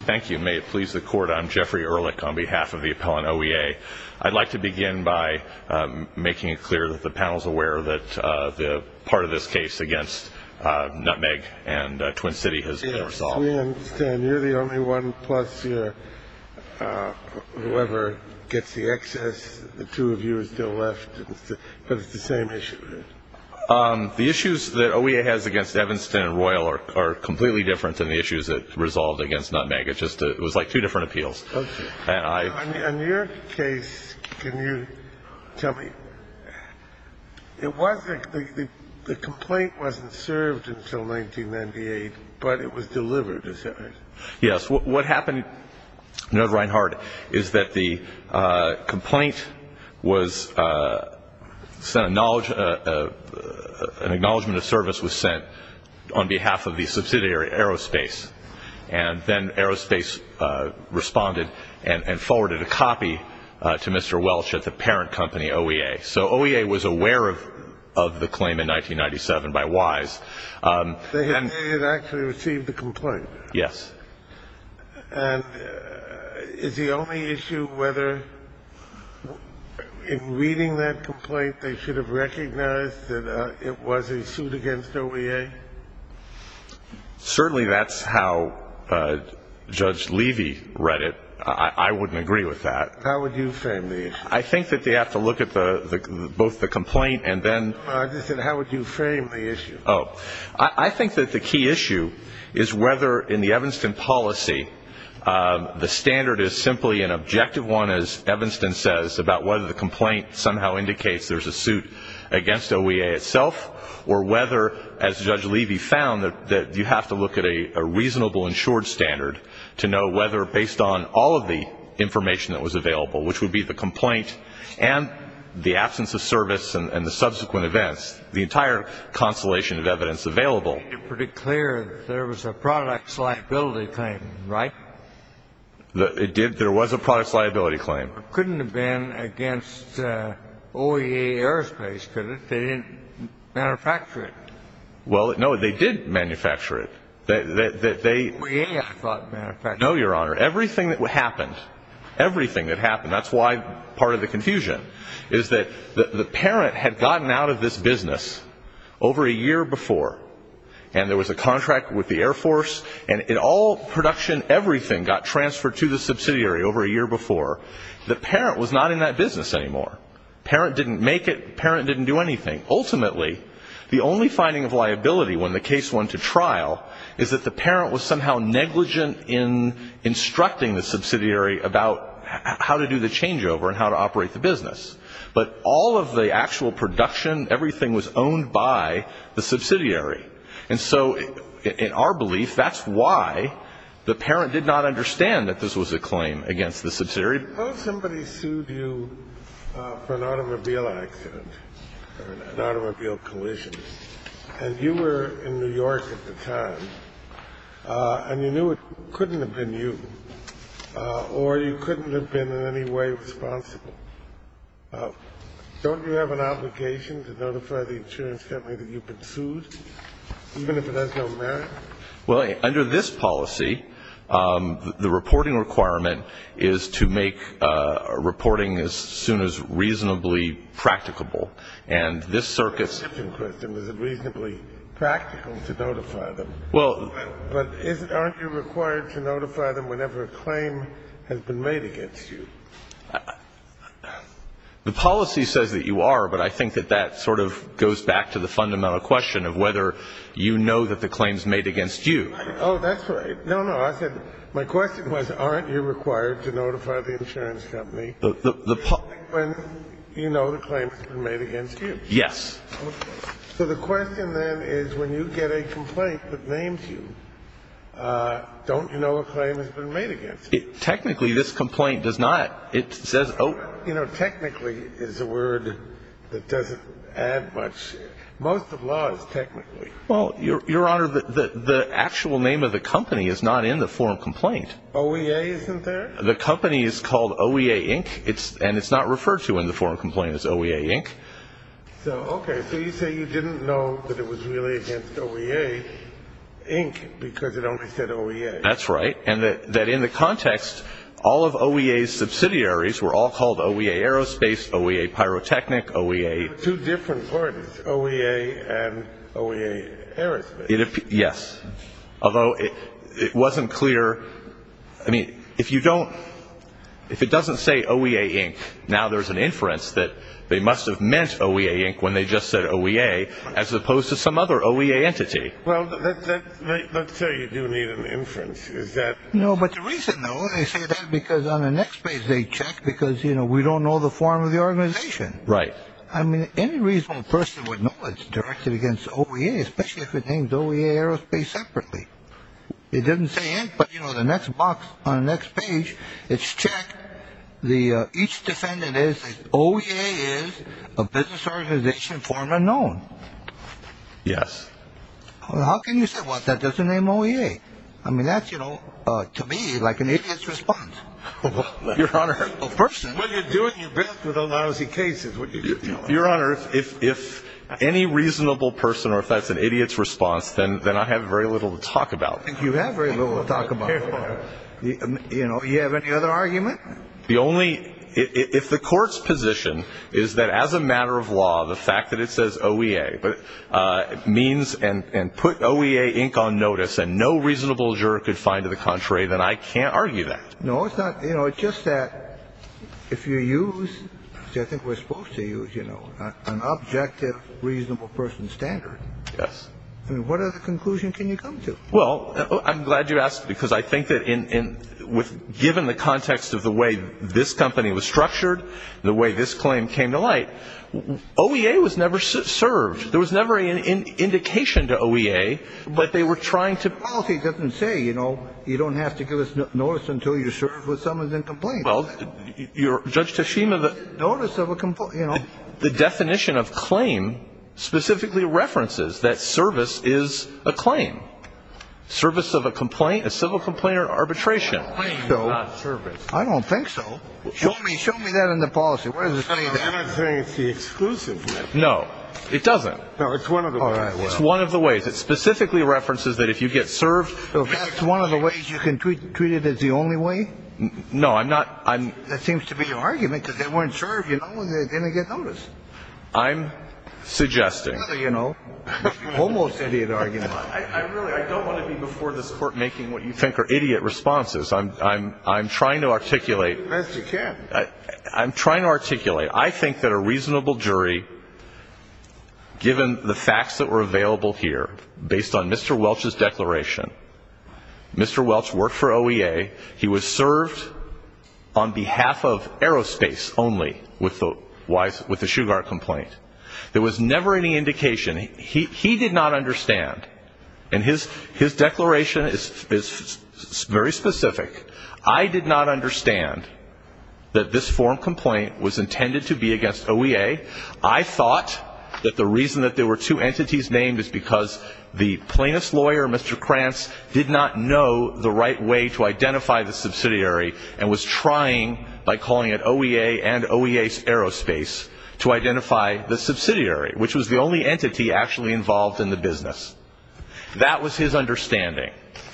Thank you. May it please the Court, I'm Jeffrey Ehrlich on behalf of the appellant OEA. I'd like to begin by making it clear that the panel is aware that part of this case against Nutmeg and Twin City has been resolved. We understand you're the only one plus whoever gets the excess. The two of you are still left, but it's the same issue. The issues that OEA has against Evanston and Royal are completely different than the issues it resolved against Nutmeg. It was like two different appeals. In your case, can you tell me, the complaint wasn't served until 1998, but it was delivered, is that right? Yes. What happened, Mr. Reinhart, is that the complaint was sent, an acknowledgement of service was sent on behalf of the subsidiary Aerospace. And then Aerospace responded and forwarded a copy to Mr. Welch at the parent company, OEA. So OEA was aware of the claim in 1997 by WISE. They had actually received the complaint? Yes. And is the only issue whether in reading that complaint, they should have recognized that it was a suit against OEA? Certainly that's how Judge Levy read it. I wouldn't agree with that. How would you frame the issue? I think that they have to look at both the complaint and then. I just said how would you frame the issue? I think that the key issue is whether in the Evanston policy, the standard is simply an objective one, as Evanston says, about whether the complaint somehow indicates there's a suit against OEA itself or whether, as Judge Levy found, that you have to look at a reasonable insured standard to know whether, based on all of the information that was available, which would be the complaint and the absence of service and the subsequent events, the entire constellation of evidence available. You made it pretty clear that there was a product's liability claim, right? There was a product's liability claim. It couldn't have been against OEA Aerospace, could it? They didn't manufacture it. Well, no, they did manufacture it. OEA, I thought, manufactured it. No, Your Honor. Everything that happened, everything that happened. That's why part of the confusion is that the parent had gotten out of this business over a year before, and there was a contract with the Air Force, and all production, everything got transferred to the subsidiary over a year before. The parent was not in that business anymore. The parent didn't make it. The parent didn't do anything. Ultimately, the only finding of liability when the case went to trial is that the parent was somehow negligent in instructing the subsidiary about how to do the changeover and how to operate the business. But all of the actual production, everything was owned by the subsidiary. And so in our belief, that's why the parent did not understand that this was a claim against the subsidiary. Suppose somebody sued you for an automobile accident or an automobile collision, and you were in New York at the time, and you knew it couldn't have been you, or you couldn't have been in any way responsible. Don't you have an obligation to notify the insurance company that you've been sued, even if it has no merit? Well, under this policy, the reporting requirement is to make reporting as soon as reasonably practicable. And this circuit's It's a different question. Is it reasonably practical to notify them? Well But aren't you required to notify them whenever a claim has been made against you? The policy says that you are, but I think that that sort of goes back to the fundamental question of whether you know that the claim's made against you. Oh, that's right. No, no, I said my question was, aren't you required to notify the insurance company when you know the claim has been made against you? Yes. Okay. So the question then is, when you get a complaint that names you, don't you know a claim has been made against you? Technically, this complaint does not. It says You know, technically is a word that doesn't add much. Most of law is technically. Well, Your Honor, the actual name of the company is not in the form complaint. OEA isn't there? The company is called OEA, Inc., and it's not referred to in the form complaint as OEA, Inc. So, okay. So you say you didn't know that it was really against OEA, Inc., because it only said OEA. That's right. And that in the context, all of OEA's subsidiaries were all called OEA Aerospace, OEA Pyrotechnic, OEA There were two different parties, OEA and OEA Aerospace. Yes. Although it wasn't clear. I mean, if you don't, if it doesn't say OEA, Inc., now there's an inference that they must have meant OEA, Inc. when they just said OEA, as opposed to some other OEA entity. Well, let's say you do need an inference. Is that No, but the reason, though, they say that because on the next page they check because, you know, we don't know the form of the organization. Right. I mean, any reasonable person would know it's directed against OEA, especially if it names OEA Aerospace separately. It doesn't say Inc., but, you know, the next box on the next page, it's checked. Each defendant is OEA is a business organization form unknown. Yes. Well, how can you say, well, that doesn't name OEA? I mean, that's, you know, to me, like an idiot's response. Your Honor. When you're doing your best with those lousy cases. Your Honor, if any reasonable person or if that's an idiot's response, then I have very little to talk about. You have very little to talk about. You know, do you have any other argument? The only, if the court's position is that as a matter of law, the fact that it says OEA means and put OEA, Inc. on notice and no reasonable juror could find to the contrary, then I can't argue that. No, it's not. You know, it's just that if you use, see, I think we're supposed to use, you know, an objective reasonable person standard. Yes. I mean, what other conclusion can you come to? Well, I'm glad you asked, because I think that in with given the context of the way this company was structured, the way this claim came to light, OEA was never served. There was never an indication to OEA. But they were trying to. The policy doesn't say, you know, you don't have to give us notice until you're served with summons and complaints. Well, Judge Teshima, the. Notice of a complaint, you know. The definition of claim specifically references that service is a claim. Service of a complaint, a civil complaint or arbitration. I don't think so. Show me that in the policy. I'm not saying it's the exclusive method. No, it doesn't. No, it's one of the ways. It specifically references that if you get served. That's one of the ways you can treat it as the only way. No, I'm not. I'm. That seems to be your argument, because they weren't served. You know, they didn't get notice. I'm suggesting. You know, almost idiot argument. I really I don't want to be before this court making what you think are idiot responses. I'm I'm I'm trying to articulate. Yes, you can. I'm trying to articulate. I think that a reasonable jury, given the facts that were available here, based on Mr. Welch's declaration. Mr. Welch worked for OEA. He was served on behalf of aerospace only with the Shugart complaint. There was never any indication. He did not understand. And his declaration is very specific. I did not understand that this form complaint was intended to be against OEA. I thought that the reason that there were two entities named is because the plaintiff's lawyer, Mr. Krantz, did not know the right way to identify the subsidiary. And was trying by calling it OEA and OEA Aerospace to identify the subsidiary, which was the only entity actually involved in the business. That was his understanding.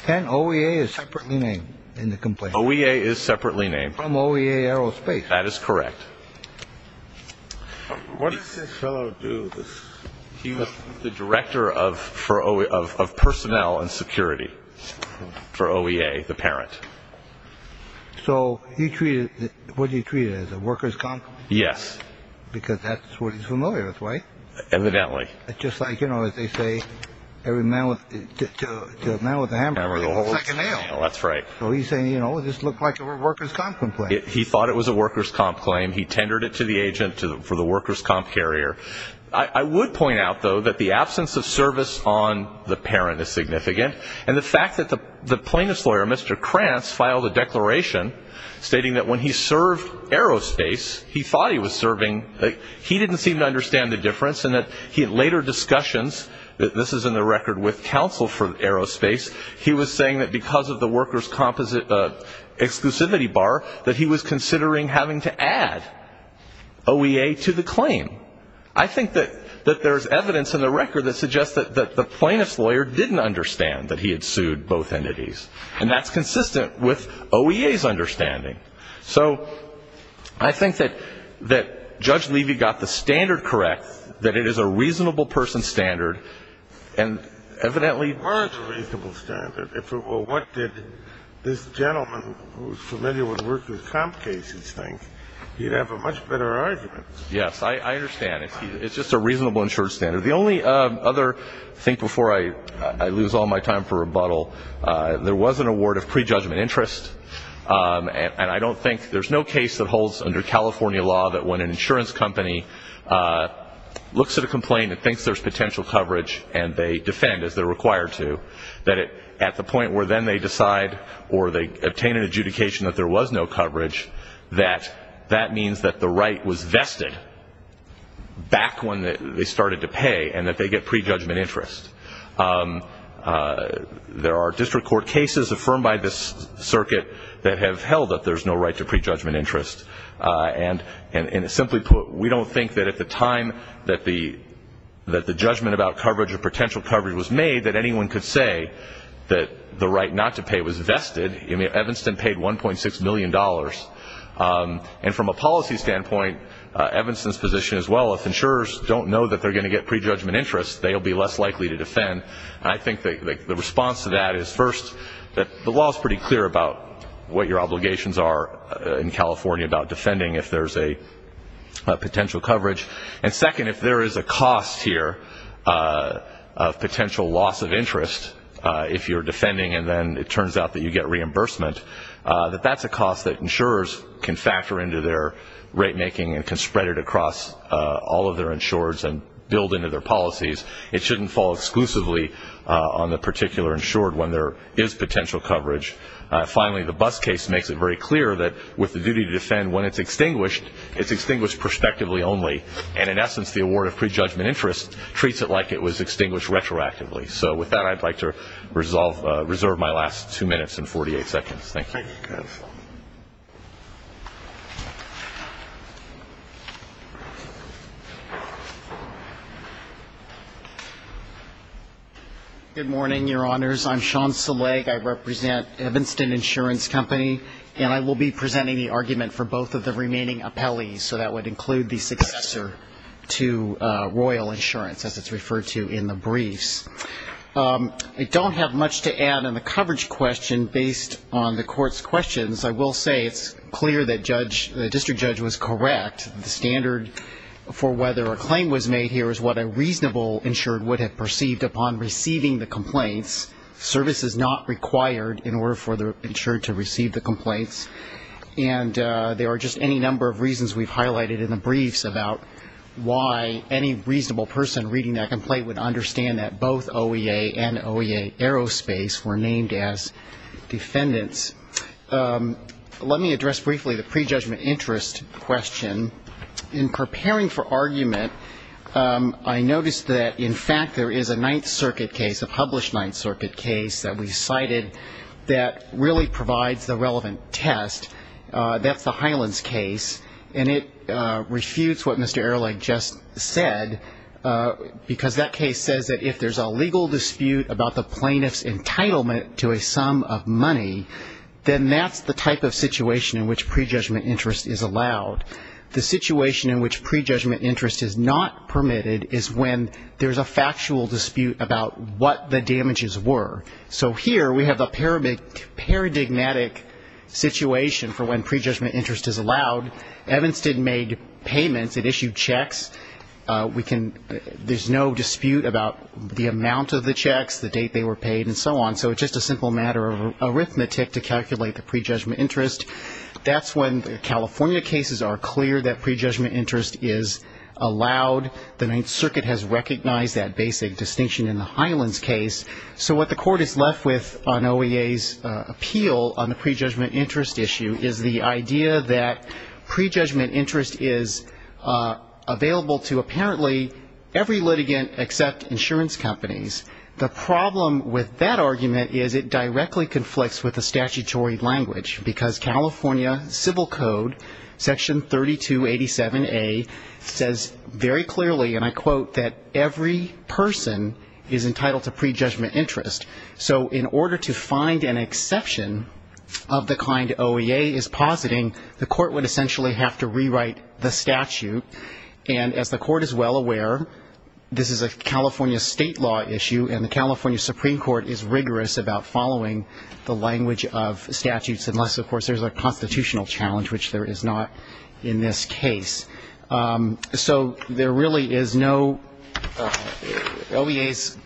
And OEA is separately named in the complaint. OEA is separately named from OEA Aerospace. That is correct. What does this fellow do? He was the director of for of personnel and security for OEA. The parent. So he treated what he treated as a worker's company. Yes, because that's what he's familiar with. Right. Evidently. Just like, you know, as they say, every man with a hammer holds a second nail. That's right. So he's saying, you know, this looked like a worker's comp complaint. He thought it was a worker's comp claim. He tendered it to the agent for the worker's comp carrier. I would point out, though, that the absence of service on the parent is significant. And the fact that the plaintiff's lawyer, Mr. Krantz, filed a declaration stating that when he served Aerospace, he thought he was serving. He didn't seem to understand the difference in that he had later discussions. This is in the record with counsel for Aerospace. He was saying that because of the worker's exclusivity bar, that he was considering having to add OEA to the claim. I think that there's evidence in the record that suggests that the plaintiff's lawyer didn't understand that he had sued both entities. And that's consistent with OEA's understanding. So I think that Judge Levy got the standard correct, that it is a reasonable person's standard, and evidently was a reasonable standard. If it were what did this gentleman who's familiar with worker's comp cases think, he'd have a much better argument. Yes. I understand. It's just a reasonable insured standard. The only other thing before I lose all my time for rebuttal, there was an award of prejudgment interest. And I don't think there's no case that holds under California law that when an insurance company looks at a complaint and thinks there's potential coverage and they defend, as they're required to, that at the point where then they decide or they obtain an adjudication that there was no coverage, that that means that the right was vested back when they started to pay and that they get prejudgment interest. There are district court cases affirmed by this circuit that have held that there's no right to prejudgment interest. And simply put, we don't think that at the time that the judgment about coverage or potential coverage was made that anyone could say that the right not to pay was vested. Evanston paid $1.6 million. And from a policy standpoint, Evanston's position as well, if insurers don't know that they're going to get prejudgment interest, they'll be less likely to defend. And I think the response to that is, first, that the law is pretty clear about what your obligations are in California about defending if there's a potential coverage. And second, if there is a cost here of potential loss of interest if you're defending and then it turns out that you get reimbursement, that that's a cost that insurers can factor into their rate making and can spread it across all of their insurers and build into their policies. It shouldn't fall exclusively on the particular insured when there is potential coverage. Finally, the Buss case makes it very clear that with the duty to defend, when it's extinguished, it's extinguished prospectively only. And in essence, the award of prejudgment interest treats it like it was extinguished retroactively. So with that, I'd like to reserve my last two minutes and 48 seconds. Thank you. Good morning, Your Honors. I'm Sean Seleg. I represent Evanston Insurance Company. And I will be presenting the argument for both of the remaining appellees. So that would include the successor to Royal Insurance, as it's referred to in the briefs. I don't have much to add on the coverage question based on the court's questions. I will say it's clear that the district judge was correct. The standard for whether a claim was made here is what a reasonable insured would have perceived upon receiving the complaints. Service is not required in order for the insured to receive the complaints. And there are just any number of reasons we've highlighted in the briefs about why any reasonable person reading that complaint would understand that both OEA and OEA Aerospace were named as defendants. Let me address briefly the prejudgment interest question. In preparing for argument, I noticed that, in fact, there is a Ninth Circuit case, a published Ninth Circuit case that we cited that really provides the relevant test. That's the Highlands case. And it refutes what Mr. Ehrlich just said because that case says that if there's a legal dispute about the plaintiff's entitlement to a sum of money, then that's the type of situation in which prejudgment interest is allowed. The situation in which prejudgment interest is not permitted is when there's a factual dispute about what the damages were. So here we have a paradigmatic situation for when prejudgment interest is allowed. Evanston made payments. It issued checks. There's no dispute about the amount of the checks, the date they were paid, and so on. So it's just a simple matter of arithmetic to calculate the prejudgment interest. That's when the California cases are clear that prejudgment interest is allowed. The Ninth Circuit has recognized that basic distinction in the Highlands case. So what the Court is left with on OEA's appeal on the prejudgment interest issue is the idea that prejudgment interest is available to apparently every litigant except insurance companies. The problem with that argument is it directly conflicts with the statutory language because California Civil Code, Section 3287A, says very clearly, and I quote, that every person is entitled to prejudgment interest. So in order to find an exception of the kind OEA is positing, the Court would essentially have to rewrite the statute. And as the Court is well aware, this is a California state law issue, and the California Supreme Court is rigorous about following the language of statutes, unless, of course, there's a constitutional challenge, which there is not in this case. So there really is no OEA's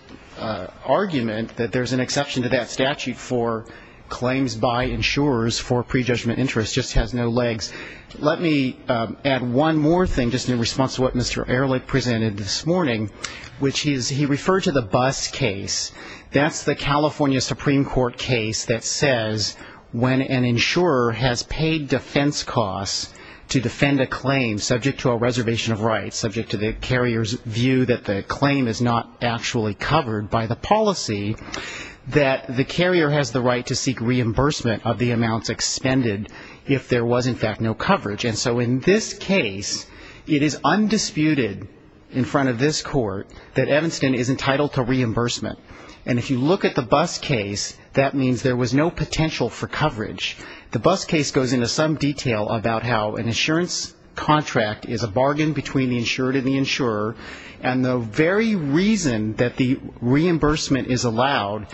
argument that there's an exception to that statute for claims by insurers for prejudgment interest. It just has no legs. Let me add one more thing just in response to what Mr. Ehrlich presented this morning, which is he referred to the bus case. That's the California Supreme Court case that says when an insurer has paid defense costs to defend a claim subject to a reservation of rights, subject to the carrier's view that the claim is not actually covered by the policy, that the carrier has the right to seek reimbursement of the amounts expended if there was, in fact, no coverage. And so in this case, it is undisputed in front of this Court that Evanston is entitled to reimbursement. And if you look at the bus case, that means there was no potential for coverage. The bus case goes into some detail about how an insurance contract is a bargain between the insured and the insurer, and the very reason that the reimbursement is allowed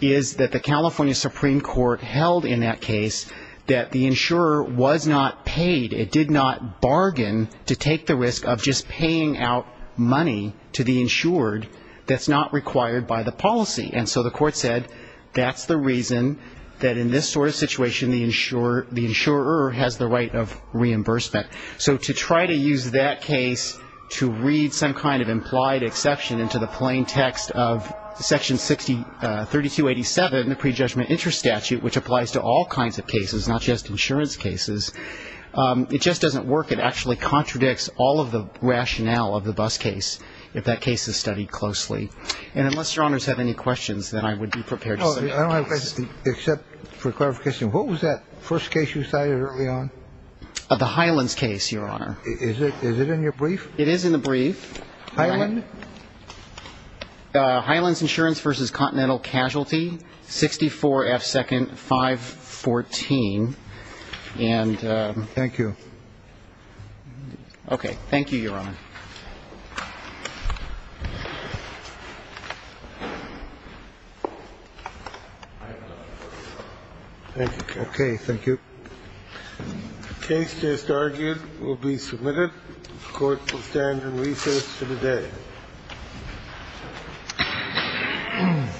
is that the California Supreme Court held in that case that the insurer was not paid, it did not bargain to take the risk of just paying out money to the insured that's not required by the policy. And so the Court said that's the reason that in this sort of situation the insurer has the right of reimbursement. So to try to use that case to read some kind of implied exception into the plain text of Section 3287, the Prejudgment Interest Statute, which applies to all kinds of cases, not just insurance cases, it just doesn't work. It actually contradicts all of the rationale of the bus case if that case is studied closely. And unless Your Honors have any questions, then I would be prepared to say no. I have a question, except for clarification, what was that first case you cited early on? The Hyland's case, Your Honor. Is it in your brief? It is in the brief. Hyland? Hyland's Insurance v. Continental Casualty, 64F 2nd 514. Thank you. Okay, thank you, Your Honor. The case just argued will be submitted. The Court will stand in recess to the day.